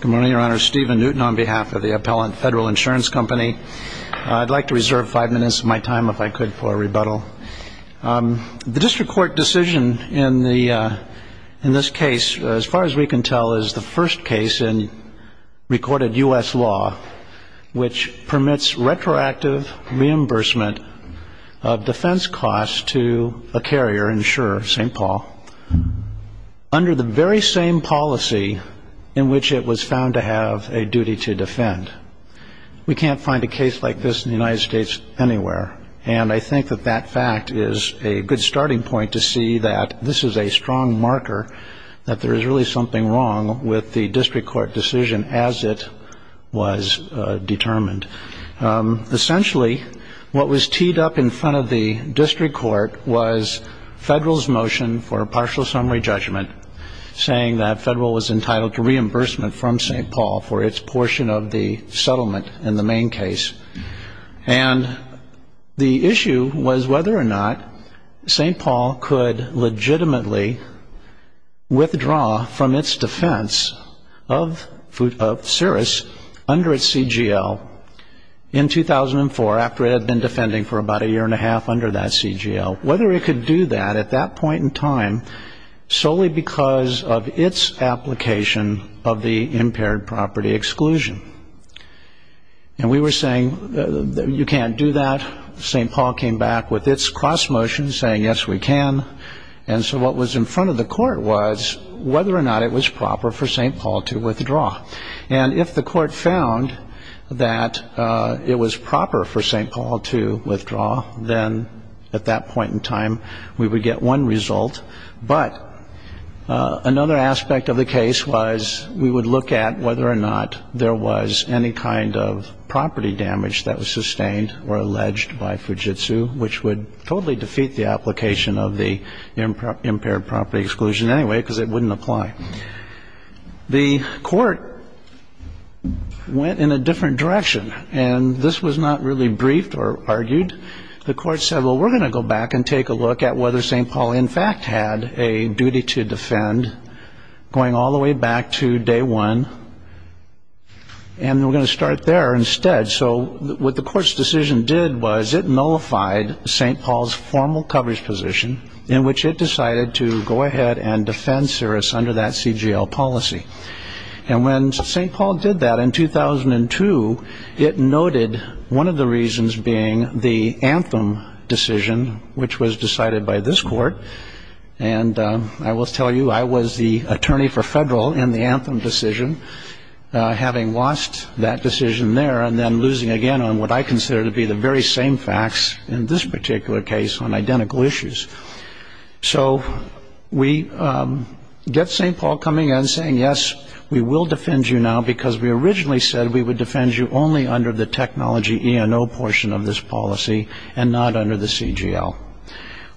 Good morning, Your Honor. Stephen Newton on behalf of the Appellant Federal Insurance Company. I'd like to reserve five minutes of my time, if I could, for a rebuttal. The District Court decision in this case, as far as we can tell, is the first case in recorded U.S. law which permits retroactive reimbursement of defense costs to a carrier insurer, St. Paul, under the very same policy in which it was found to have a duty to defend. We can't find a case like this in the United States anywhere, and I think that that fact is a good starting point to see that this is a strong marker that there is really something wrong with the District Court decision as it was determined. Essentially, what was teed up in front of the District Court was Federal's motion for a partial summary judgment saying that Federal was entitled to reimbursement from St. Paul for its portion of the settlement in the main case. And the issue was whether or not St. Paul could legitimately withdraw from its defense of Cirrus under its CGL in 2004, after it had been defending for about a year and a half under that CGL, whether it could do that at that point in time solely because of its application of the impaired property exclusion. And we were saying, you can't do that. St. Paul came back with its cross motion saying, yes, we can. And so what was in front of the Court was whether or not it was proper for St. Paul to withdraw. And if the Court found that it was proper for St. Paul to withdraw, then at that point in time we would get one result. But another aspect of the case was we would look at whether or not there was any kind of property damage that was sustained or alleged by Fujitsu, which would totally defeat the application of the impaired property exclusion anyway because it wouldn't apply. The Court went in a different direction, and this was not really briefed or argued. The Court said, well, we're going to go back and take a look at whether St. Paul in fact had a duty to defend, going all the way back to day one, and we're going to start there instead. So what the Court's decision did was it nullified St. Paul's formal coverage position in which it decided to go ahead and defend Cirrus under that CGL policy. And when St. Paul did that in 2002, it noted one of the reasons being the Anthem decision, which was decided by this Court. And I will tell you, I was the attorney for federal in the Anthem decision, having lost that decision there and then losing again on what I consider to be the very same facts in this particular case on identical issues. So we get St. Paul coming in and saying, yes, we will defend you now because we originally said we would defend you only under the technology E&O portion of this policy and not under the CGL.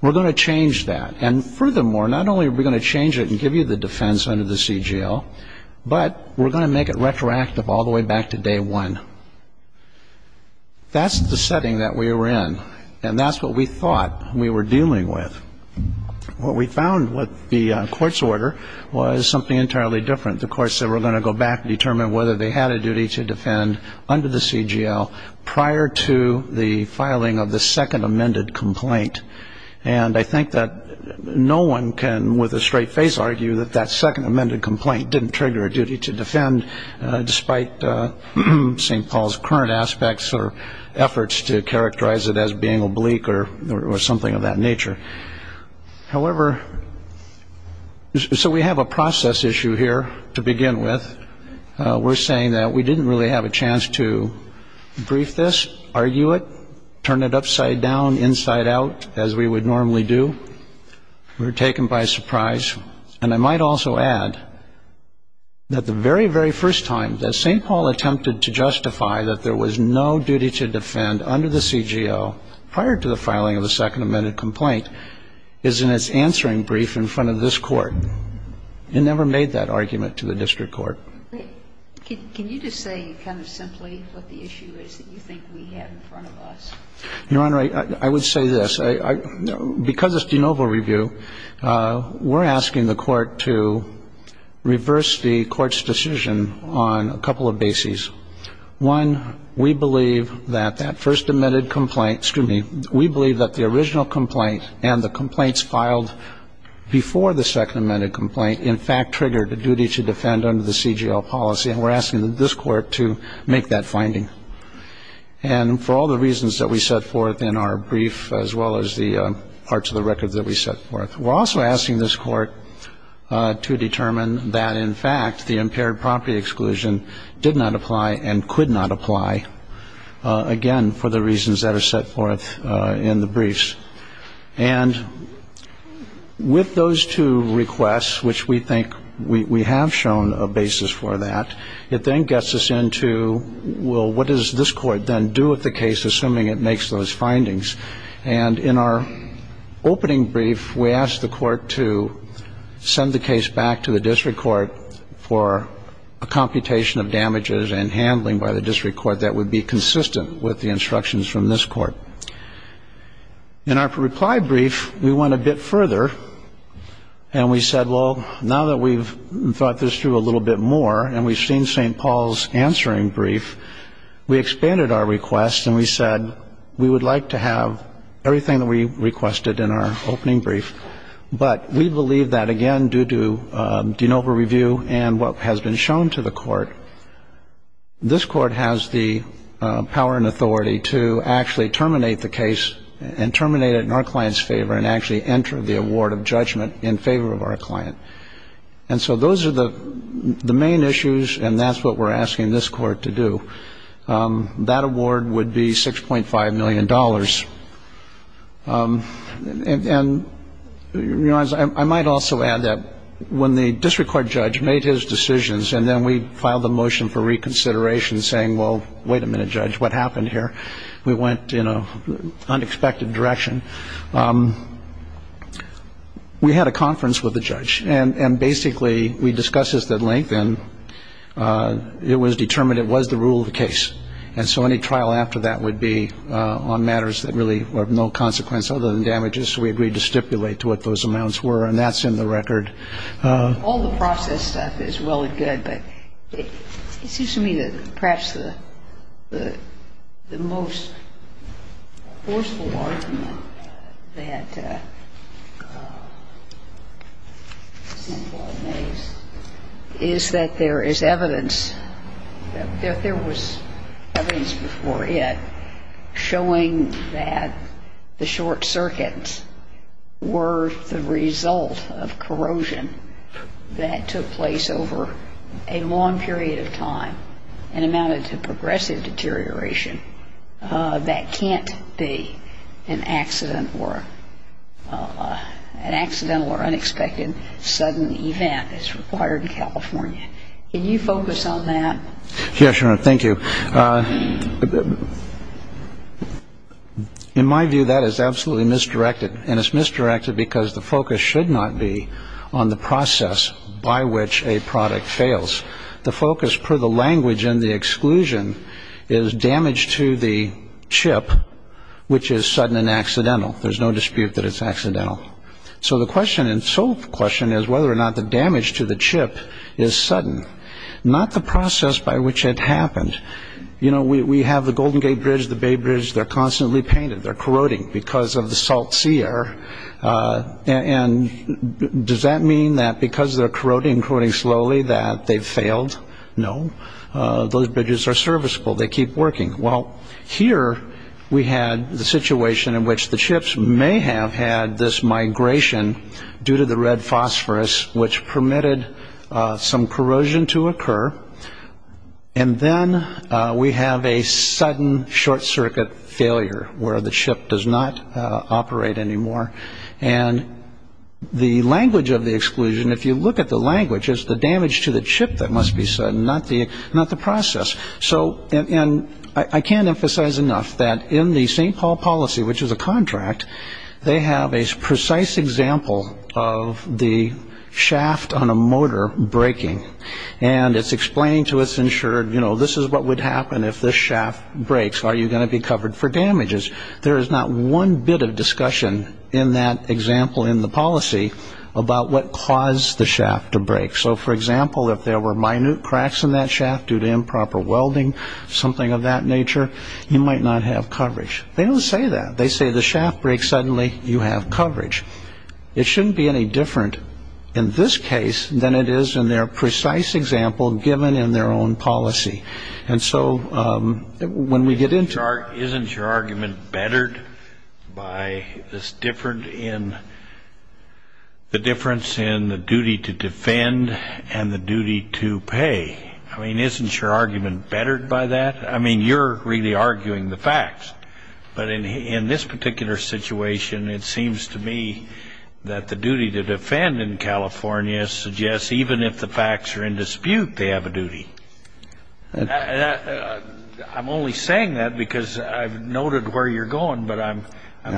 We're going to change that. And furthermore, not only are we going to change it and give you the defense under the CGL, but we're going to make it retroactive all the way back to day one. That's the setting that we were in, and that's what we thought we were dealing with. What we found with the Court's order was something entirely different. The Court said we're going to go back and determine whether they had a duty to defend under the CGL prior to the filing of the second amended complaint. And I think that no one can, with a straight face, argue that that second amended complaint didn't trigger a duty to defend despite St. Paul's current aspects or efforts to characterize it as being oblique or something of that nature. However, so we have a process issue here to begin with. We're saying that we didn't really have a chance to brief this, argue it, turn it upside down, inside out, as we would normally do. We were taken by surprise. And I might also add that the very, very first time that St. Paul attempted to justify that there was no duty to defend under the CGL prior to the filing of the second amended complaint is in its answering brief in front of this Court. It never made that argument to the district court. Can you just say kind of simply what the issue is that you think we have in front of us? Your Honor, I would say this. Because it's de novo review, we're asking the Court to reverse the Court's decision on a couple of bases. One, we believe that that first amended complaint, excuse me, we believe that the original complaint and the complaints filed before the second amended complaint, in fact, triggered a duty to defend under the CGL policy. And we're asking this Court to make that finding. And for all the reasons that we set forth in our brief, as well as the parts of the record that we set forth, we're also asking this Court to determine that, in fact, the impaired property exclusion did not apply and could not apply, again, for the reasons that are set forth in the briefs. And with those two requests, which we think we have shown a basis for that, it then gets us into, well, what does this Court then do with the case, assuming it makes those findings? And in our opening brief, we asked the Court to send the case back to the district court for a computation of damages and handling by the district court that would be consistent with the instructions from this court. In our reply brief, we went a bit further, and we said, well, now that we've thought this through a little bit more and we've seen St. Paul's answering brief, we expanded our request, and we said we would like to have everything that we requested in our opening brief. But we believe that, again, due to de novo review and what has been shown to the Court, this Court has the power and authority to actually terminate the case and terminate it in our client's favor and actually enter the award of judgment in favor of our client. And so those are the main issues, and that's what we're asking this Court to do. That award would be $6.5 million. And I might also add that when the district court judge made his decisions and then we filed a motion for reconsideration saying, well, wait a minute, Judge, what happened here? We went in an unexpected direction. We had a conference with the judge, and basically we discussed this at length, and it was determined it was the rule of the case. And so any trial after that would be on matters that really were of no consequence other than damages, so we agreed to stipulate to what those amounts were, and that's in the record. All the process stuff is really good, but it seems to me that perhaps the most forceful argument that this Court may use is that there is evidence that there was evidence before it showing that the short circuits were the result of corrosion that took place over a long period of time and amounted to progressive deterioration that can't be an accident or an accidental or unexpected sudden event as required in California. Can you focus on that? Yes, Your Honor, thank you. In my view, that is absolutely misdirected, and it's misdirected because the focus should not be on the process by which a product fails. The focus, per the language in the exclusion, is damage to the chip, which is sudden and accidental. There's no dispute that it's accidental. So the question and sole question is whether or not the damage to the chip is sudden, not the process by which it happened. You know, we have the Golden Gate Bridge, the Bay Bridge. They're constantly painted. They're corroding because of the salt sea air, and does that mean that because they're corroding slowly that they've failed? No. Those bridges are serviceable. They keep working. Well, here we had the situation in which the chips may have had this migration due to the red phosphorus, which permitted some corrosion to occur, and then we have a sudden short-circuit failure where the chip does not operate anymore. And the language of the exclusion, if you look at the language, is the damage to the chip that must be sudden, not the process. And I can't emphasize enough that in the St. Paul policy, which is a contract, they have a precise example of the shaft on a motor breaking, and it's explained to us in short, you know, this is what would happen if this shaft breaks. Are you going to be covered for damages? There is not one bit of discussion in that example in the policy about what caused the shaft to break. So, for example, if there were minute cracks in that shaft due to improper welding, something of that nature, you might not have coverage. They don't say that. They say the shaft breaks, suddenly you have coverage. It shouldn't be any different in this case than it is in their precise example given in their own policy. And so when we get into it. Isn't your argument bettered by this difference in the duty to defend and the duty to pay? I mean, isn't your argument bettered by that? I mean, you're really arguing the facts. But in this particular situation, it seems to me that the duty to defend in California suggests, even if the facts are in dispute, they have a duty. I'm only saying that because I've noted where you're going, but I'm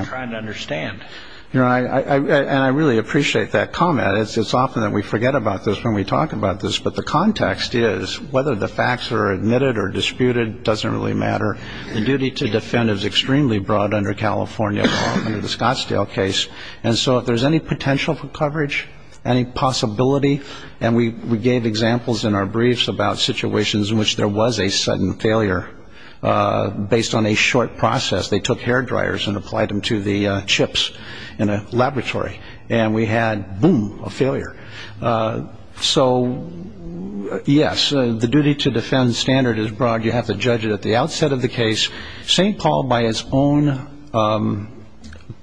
trying to understand. And I really appreciate that comment. It's often that we forget about this when we talk about this, but the context is whether the facts are admitted or disputed doesn't really matter. The duty to defend is extremely broad under California law, under the Scottsdale case. And so if there's any potential for coverage, any possibility, and we gave examples in our briefs about situations in which there was a sudden failure based on a short process. They took hair dryers and applied them to the chips in a laboratory, and we had, boom, a failure. So, yes, the duty to defend standard is broad. You have to judge it at the outset of the case. St. Paul, by its own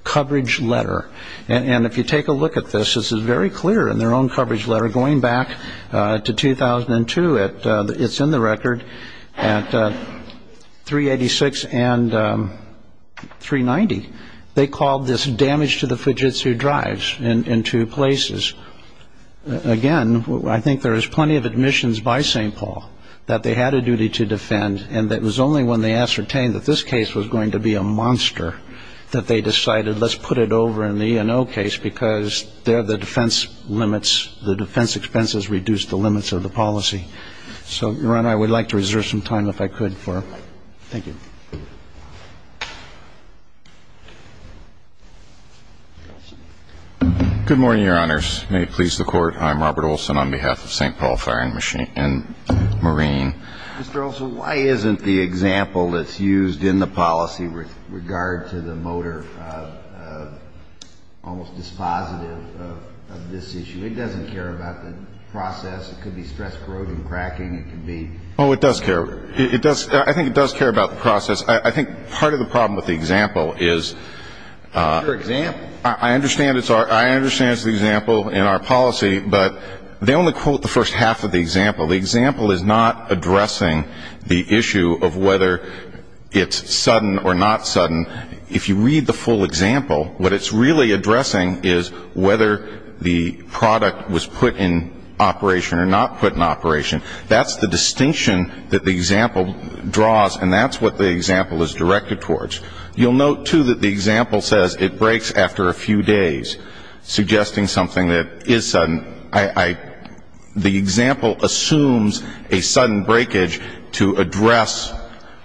coverage letter, and if you take a look at this, this is very clear in their own coverage letter going back to 2002. It's in the record at 386 and 390. They called this damage to the Fujitsu drives in two places. Again, I think there is plenty of admissions by St. Paul that they had a duty to defend and that it was only when they ascertained that this case was going to be a monster that they decided let's put it over in the E&O case because there the defense limits, the defense expenses reduced the limits of the policy. So, Your Honor, I would like to reserve some time if I could for it. Thank you. Mr. Olson. Good morning, Your Honors. May it please the Court, I'm Robert Olson on behalf of St. Paul Fire and Marine. Mr. Olson, why isn't the example that's used in the policy with regard to the motor almost dispositive of this issue? It doesn't care about the process. It could be stress corrosion cracking. It could be. Oh, it does care. I think it does care about the process. I think part of the problem with the example is I understand it's the example in our policy, but they only quote the first half of the example. The example is not addressing the issue of whether it's sudden or not sudden. If you read the full example, what it's really addressing is whether the product was put in operation or not put in operation. That's the distinction that the example draws, and that's what the example is directed towards. You'll note, too, that the example says it breaks after a few days, suggesting something that is sudden. The example assumes a sudden breakage to address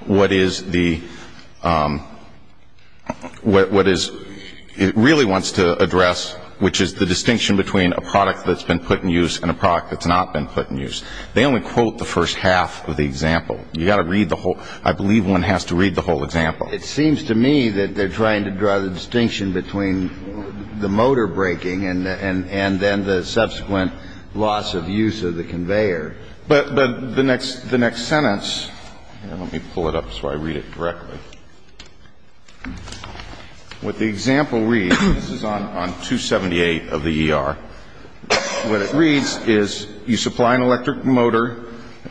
what it really wants to address, which is the distinction between a product that's been put in use and a product that's not been put in use. They only quote the first half of the example. You've got to read the whole – I believe one has to read the whole example. It seems to me that they're trying to draw the distinction between the motor breaking and then the subsequent loss of use of the conveyor. But the next sentence – let me pull it up so I read it directly. What the example reads – this is on 278 of the ER. What it reads is you supply an electric motor.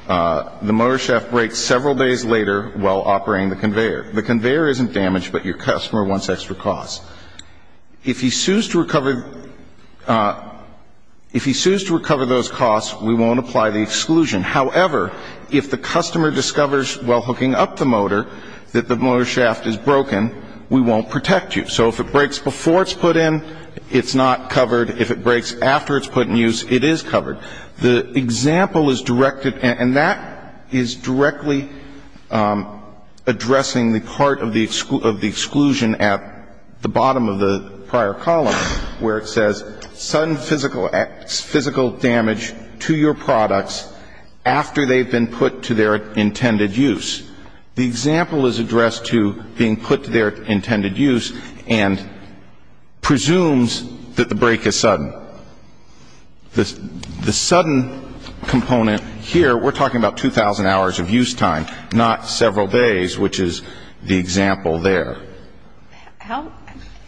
The motor shaft breaks several days later while operating the conveyor. The conveyor isn't damaged, but your customer wants extra costs. If he sues to recover those costs, we won't apply the exclusion. However, if the customer discovers while hooking up the motor that the motor shaft is broken, we won't protect you. So if it breaks before it's put in, it's not covered. If it breaks after it's put in use, it is covered. The example is directed – and that is directly addressing the part of the exclusion at the bottom of the prior column where it says sudden physical damage to your products after they've been put to their intended use. The example is addressed to being put to their intended use and presumes that the break is sudden. The sudden component here, we're talking about 2,000 hours of use time, not several days, which is the example there. How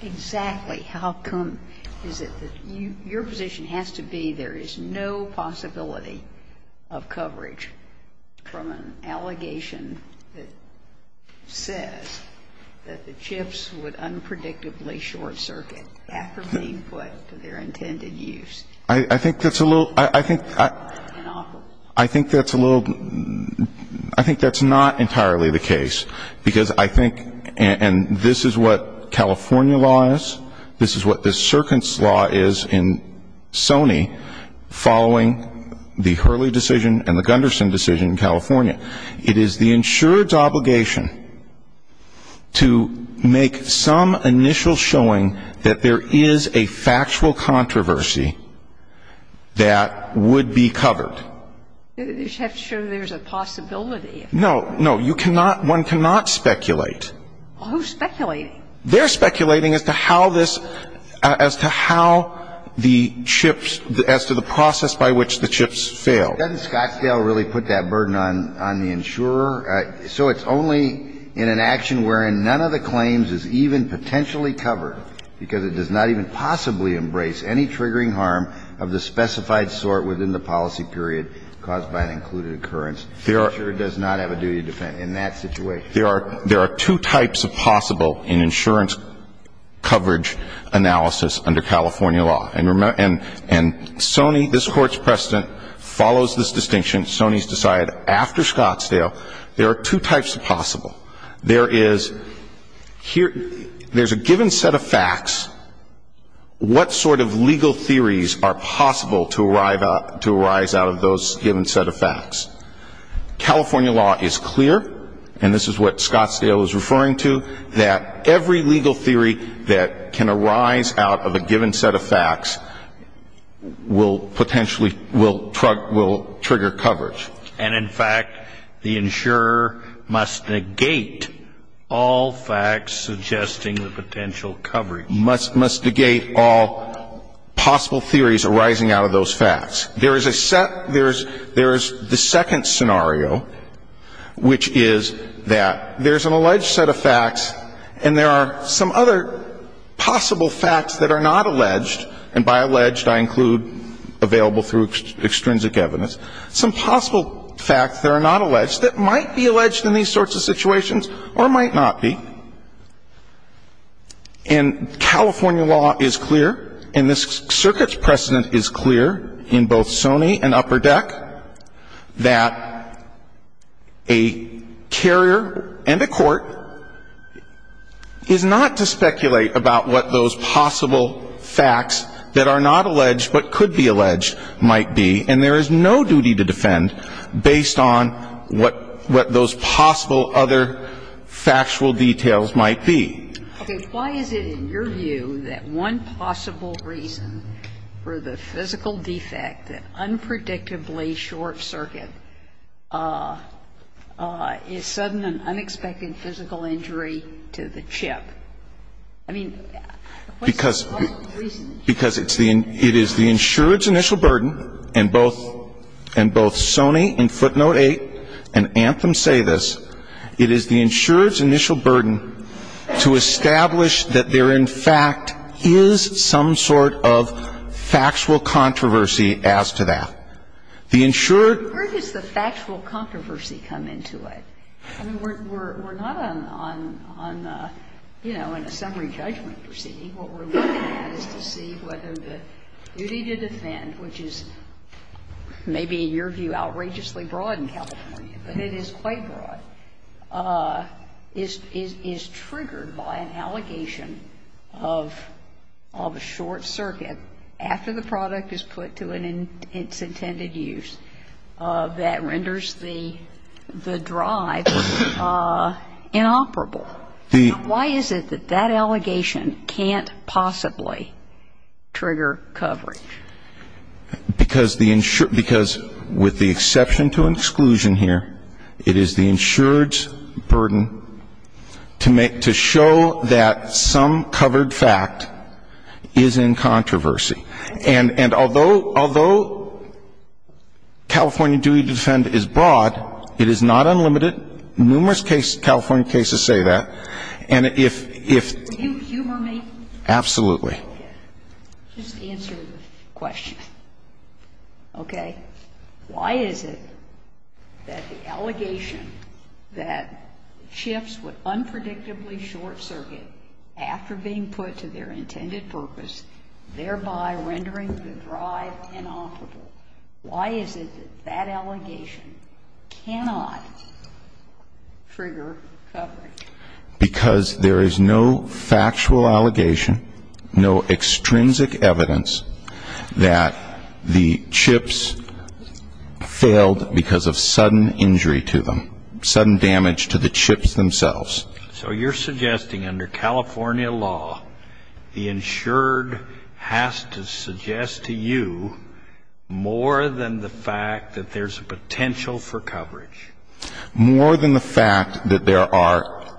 exactly how come is it that your position has to be there is no possibility of coverage from an allegation that says that the chips would unpredictably short-circuit after being put to their intended use? I think that's a little – I think that's a little – I think that's not entirely the case. Because I think – and this is what California law is. This is what the circuits law is in Sony following the Hurley decision and the Gunderson decision in California. It is the insurer's obligation to make some initial showing that there is a factual controversy that would be covered. You just have to show there's a possibility. No, no. You cannot – one cannot speculate. Who's speculating? They're speculating as to how this – as to how the chips – as to the process by which the chips fail. Doesn't Scottsdale really put that burden on the insurer? So it's only in an action wherein none of the claims is even potentially covered because it does not even possibly embrace any triggering harm of the specified sort within the policy period caused by an included occurrence. The insurer does not have a duty to defend in that situation. There are two types of possible in insurance coverage analysis under California law. And Sony – this Court's precedent follows this distinction. Sony's decided after Scottsdale there are two types of possible. There is – there's a given set of facts. What sort of legal theories are possible to arise out of those given set of facts? California law is clear, and this is what Scottsdale is referring to, that every legal theory that can arise out of a given set of facts will potentially – will trigger coverage. And, in fact, the insurer must negate all facts suggesting the potential coverage. Must negate all possible theories arising out of those facts. There is a set – there is the second scenario, which is that there's an alleged set of facts and there are some other possible facts that are not alleged, and by alleged I include available through extrinsic evidence, some possible facts that are not alleged that might be alleged in these sorts of situations or might not be. And California law is clear, and this Circuit's precedent is clear in both Sony and Upper Deck, that a carrier and a court is not to speculate about what those possible facts that are not alleged but could be alleged might be, and there is no duty to defend based on what those possible other factual details might be. Okay. Why is it in your view that one possible reason for the physical defect, an unpredictably short circuit, is sudden and unexpected physical injury to the chip? I mean, what's the possible reason? Because it's the – it is the insurer's initial burden, and both Sony and Footnote 8 and Anthem say this. It is the insurer's initial burden to establish that there in fact is some sort of factual controversy as to that. The insurer – Where does the factual controversy come into it? I mean, we're not on, you know, in a summary judgment proceeding. What we're looking at is to see whether the duty to defend, which is maybe in your view outrageously broad in California, but it is quite broad, is triggered by an allegation of a short circuit after the product is put to its intended use that renders the drive inoperable. Why is it that that allegation can't possibly trigger coverage? Because the – because with the exception to an exclusion here, it is the insurer's burden to show that some covered fact is in controversy. And although California duty to defend is broad, it is not unlimited. Numerous cases, California cases, say that. And if – if – Can you humor me? Absolutely. Just answer the question, okay? Why is it that the allegation that shifts with unpredictably short circuit after being put to their intended purpose, thereby rendering the drive inoperable, why is it that that allegation cannot trigger coverage? Because there is no factual allegation, no extrinsic evidence, that the chips failed because of sudden injury to them, sudden damage to the chips themselves. So you're suggesting under California law, the insured has to suggest to you more than the fact that there's a potential for coverage? More than the fact that there are –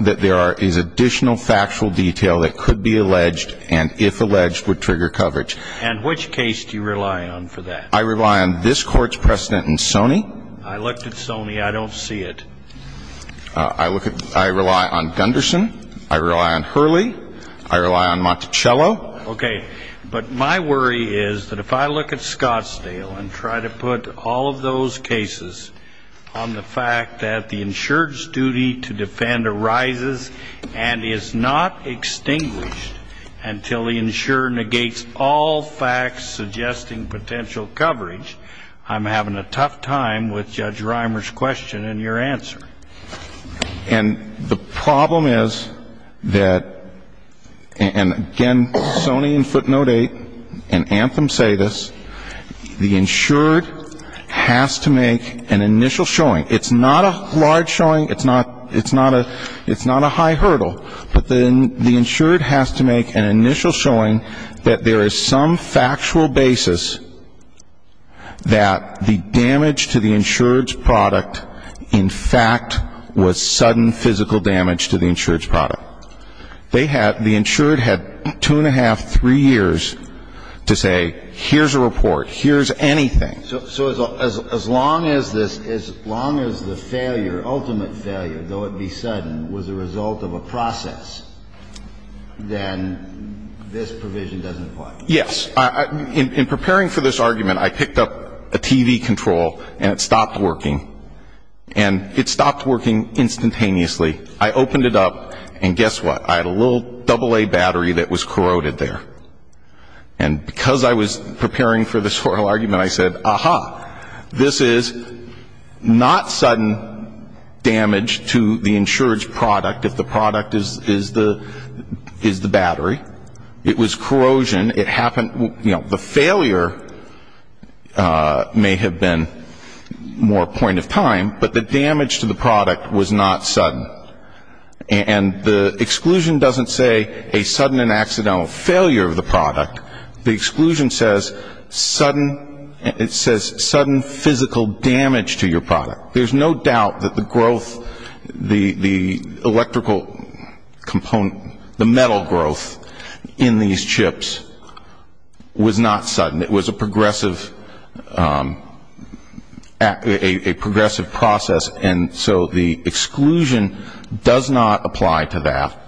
that there is additional factual detail that could be alleged and, if alleged, would trigger coverage. And which case do you rely on for that? I rely on this Court's precedent in Sony. I looked at Sony. I don't see it. I look at – I rely on Gunderson. I rely on Hurley. I rely on Monticello. Okay. But my worry is that if I look at Scottsdale and try to put all of those cases on the fact that the insured's duty to defend arises and is not extinguished until the insurer negates all facts suggesting potential coverage, I'm having a tough time with Judge Reimer's question and your answer. And the problem is that – and, again, Sony and footnote 8 and anthem say this. The insured has to make an initial showing. It's not a large showing. It's not a high hurdle. But the insured has to make an initial showing that there is some factual basis that the damage to the insured's product, in fact, was sudden physical damage to the insured's product. They had – the insured had two and a half, three years to say, here's a report, here's anything. So as long as this – as long as the failure, ultimate failure, though it be sudden, was a result of a process, then this provision doesn't apply. Yes. In preparing for this argument, I picked up a TV control, and it stopped working. And it stopped working instantaneously. I opened it up, and guess what? I had a little AA battery that was corroded there. And because I was preparing for this oral argument, I said, aha, this is not sudden damage to the insured's product if the product is the battery. It was corrosion. It happened – you know, the failure may have been more point of time, but the damage to the product was not sudden. And the exclusion doesn't say a sudden and accidental failure of the product. The exclusion says sudden – it says sudden physical damage to your product. There's no doubt that the growth, the electrical component, the metal growth in these chips was not sudden. It was a progressive – a progressive process. And so the exclusion does not apply to that.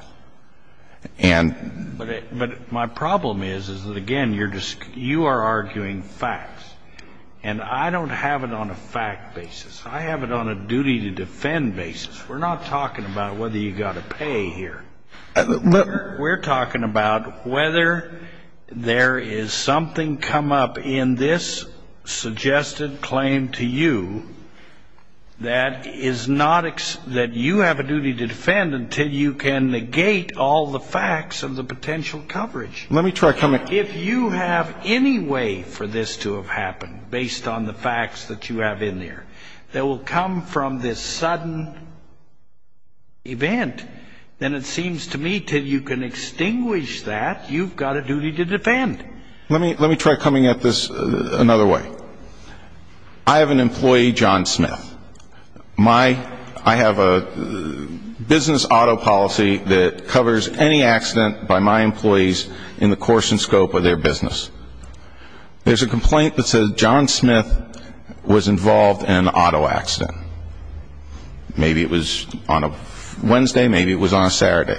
But my problem is that, again, you are arguing facts. And I don't have it on a fact basis. I have it on a duty to defend basis. We're not talking about whether you've got to pay here. We're talking about whether there is something come up in this suggested claim to you that is not – that you have a duty to defend until you can negate all the facts of the potential coverage. Let me try – If you have any way for this to have happened based on the facts that you have in there, that will come from this sudden event, then it seems to me until you can extinguish that, you've got a duty to defend. Let me try coming at this another way. I have an employee, John Smith. My – I have a business auto policy that covers any accident by my employees in the course and scope of their business. There's a complaint that says John Smith was involved in an auto accident. Maybe it was on a Wednesday. Maybe it was on a Saturday.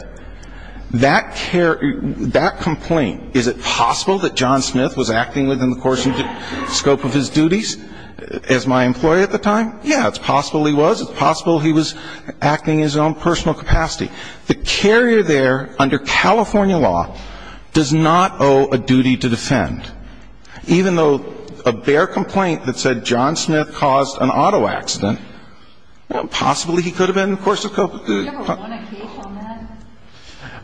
That complaint, is it possible that John Smith was acting within the course and scope of his duties as my employee at the time? Yeah, it's possible he was. It's possible he was acting in his own personal capacity. The carrier there, under California law, does not owe a duty to defend. Even though a bare complaint that said John Smith caused an auto accident, possibly he could have been in the course of – Have you ever won a case on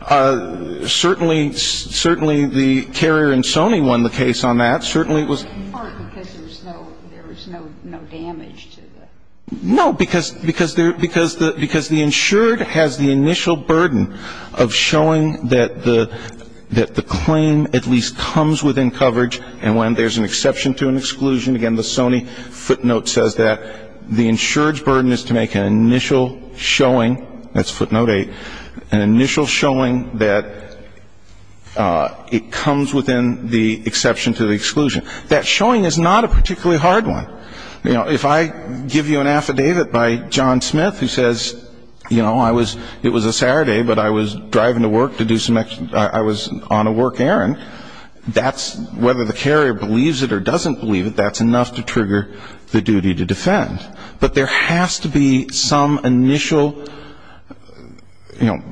that? Certainly – certainly the carrier in Sony won the case on that. Certainly it was – In part because there was no – there was no damage to the – No, because – because there – because the – because the insured has the initial burden of showing that the – that the claim at least comes within coverage and when there's an exception to an exclusion. Again, the Sony footnote says that. The insured's burden is to make an initial showing – that's footnote 8 – an initial showing that it comes within the exception to the exclusion. That showing is not a particularly hard one. You know, if I give you an affidavit by John Smith who says, you know, I was – it was a Saturday, but I was driving to work to do some – I was on a work errand, that's – whether the carrier believes it or doesn't believe it, that's enough to trigger the duty to defend. But there has to be some initial, you know,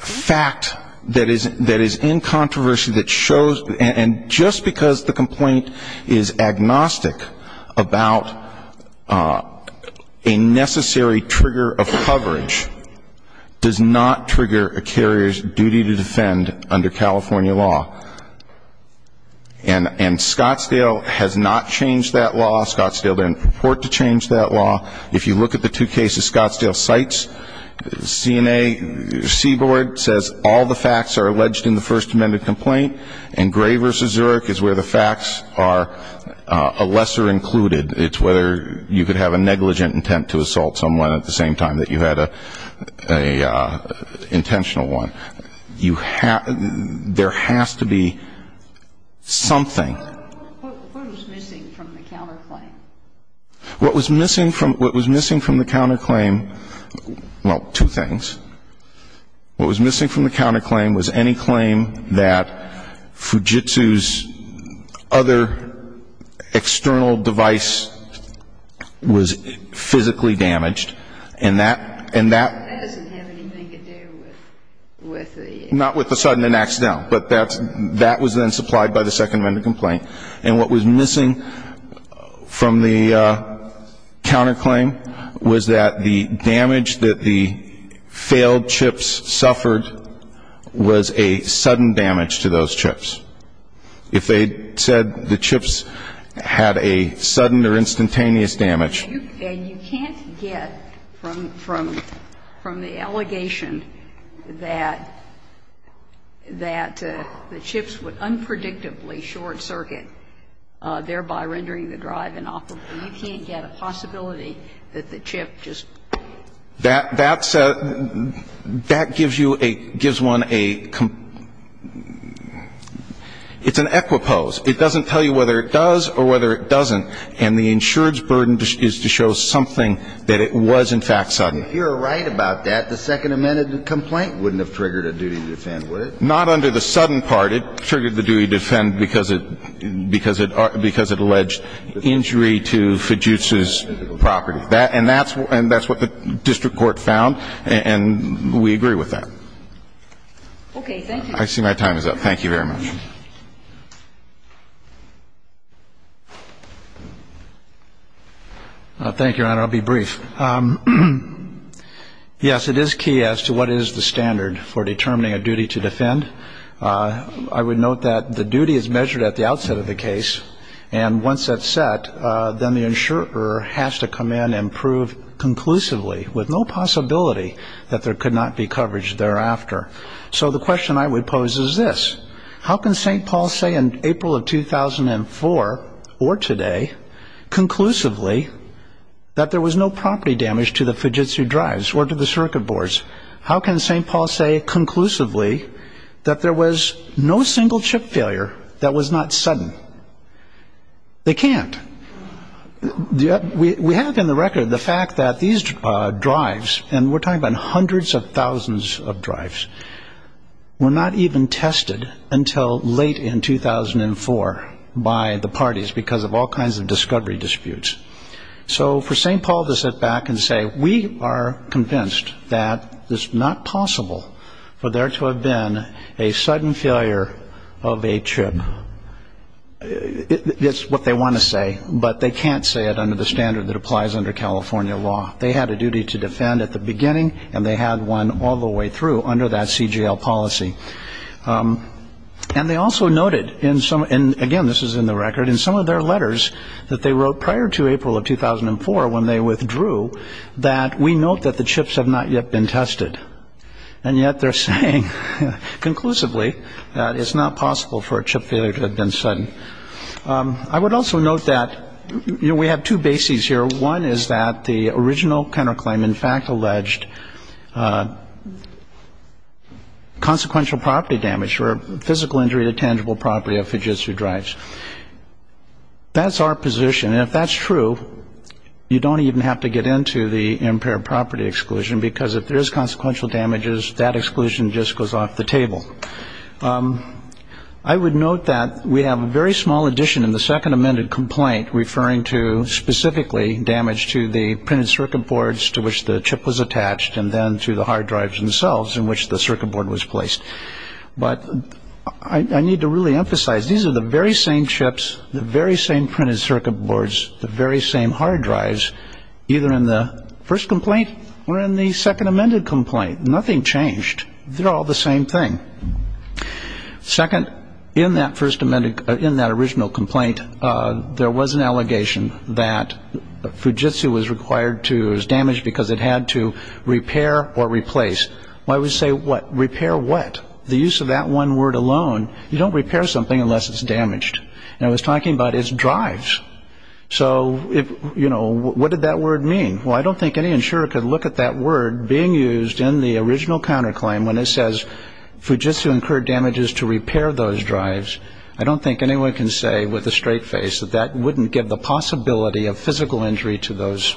fact that is – that is in controversy that shows – and just because the complaint is agnostic about a necessary trigger of coverage does not trigger a carrier's duty to defend under California law. And Scottsdale has not changed that law. Scottsdale didn't purport to change that law. If you look at the two cases Scottsdale cites, CNA – C-Board says all the facts are alleged in the First Amendment complaint and Gray v. Zurich is where the facts are lesser included. It's whether you could have a negligent intent to assault someone at the same time that you had an intentional one. You – there has to be something. What was missing from the counterclaim? What was missing from – what was missing from the counterclaim – well, two things. What was missing from the counterclaim was any claim that Fujitsu's other external device was physically damaged. And that – and that – That doesn't have anything to do with the – Not with the sudden and accidental. But that's – that was then supplied by the Second Amendment complaint. And what was missing from the counterclaim was that the damage that the failed chips suffered was a sudden damage to those chips. If they said the chips had a sudden or instantaneous damage. And you can't get from the allegation that the chips would unpredictably short-circuit, thereby rendering the drive inoperable. You can't get a possibility that the chip just. That's a – that gives you a – gives one a – it's an equipose. It doesn't tell you whether it does or whether it doesn't. And the insurance burden is to show something that it was, in fact, sudden. If you're right about that, the Second Amendment complaint wouldn't have triggered a duty to defend, would it? Not under the sudden part. It triggered the duty to defend because it – because it – because it alleged injury to Fujitsu's property. That – and that's – and that's what the district court found. And we agree with that. Okay. Thank you. I see my time is up. Thank you very much. Thank you, Your Honor. I'll be brief. Yes, it is key as to what is the standard for determining a duty to defend. I would note that the duty is measured at the outset of the case. And once that's set, then the insurer has to come in and prove conclusively, with no possibility, that there could not be coverage thereafter. So the question I would pose is this. How can St. Paul say in April of 2004 or today, conclusively, that there was no property damage to the Fujitsu drives or to the circuit boards? How can St. Paul say conclusively that there was no single chip failure that was not sudden? They can't. We have in the record the fact that these drives, and we're talking about hundreds of thousands of drives, were not even tested until late in 2004 by the parties because of all kinds of discovery disputes. So for St. Paul to sit back and say, we are convinced that it's not possible for there to have been a sudden failure of a chip, it's what they want to say. But they can't say it under the standard that applies under California law. They had a duty to defend at the beginning, and they had one all the way through under that CGL policy. And they also noted, and again this is in the record, in some of their letters that they wrote prior to April of 2004 when they withdrew, that we note that the chips have not yet been tested. And yet they're saying conclusively that it's not possible for a chip failure to have been sudden. I would also note that we have two bases here. One is that the original counterclaim in fact alleged consequential property damage or physical injury to tangible property of Fujitsu drives. That's our position. And if that's true, you don't even have to get into the impaired property exclusion because if there's consequential damages, that exclusion just goes off the table. I would note that we have a very small addition in the second amended complaint referring to specifically damage to the printed circuit boards to which the chip was attached and then to the hard drives themselves in which the circuit board was placed. But I need to really emphasize these are the very same chips, the very same printed circuit boards, the very same hard drives either in the first complaint or in the second amended complaint. Nothing changed. They're all the same thing. Second, in that original complaint, there was an allegation that Fujitsu was damaged because it had to repair or replace. Well, I would say repair what? The use of that one word alone, you don't repair something unless it's damaged. And I was talking about its drives. So, you know, what did that word mean? Well, I don't think any insurer could look at that word being used in the original counterclaim when it says Fujitsu incurred damages to repair those drives. I don't think anyone can say with a straight face that that wouldn't give the possibility of physical injury to those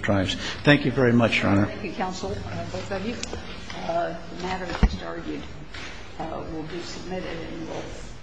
drives. Thank you very much, Your Honor. Thank you, counsel. Both of you. The matter just argued will be submitted. Thank you.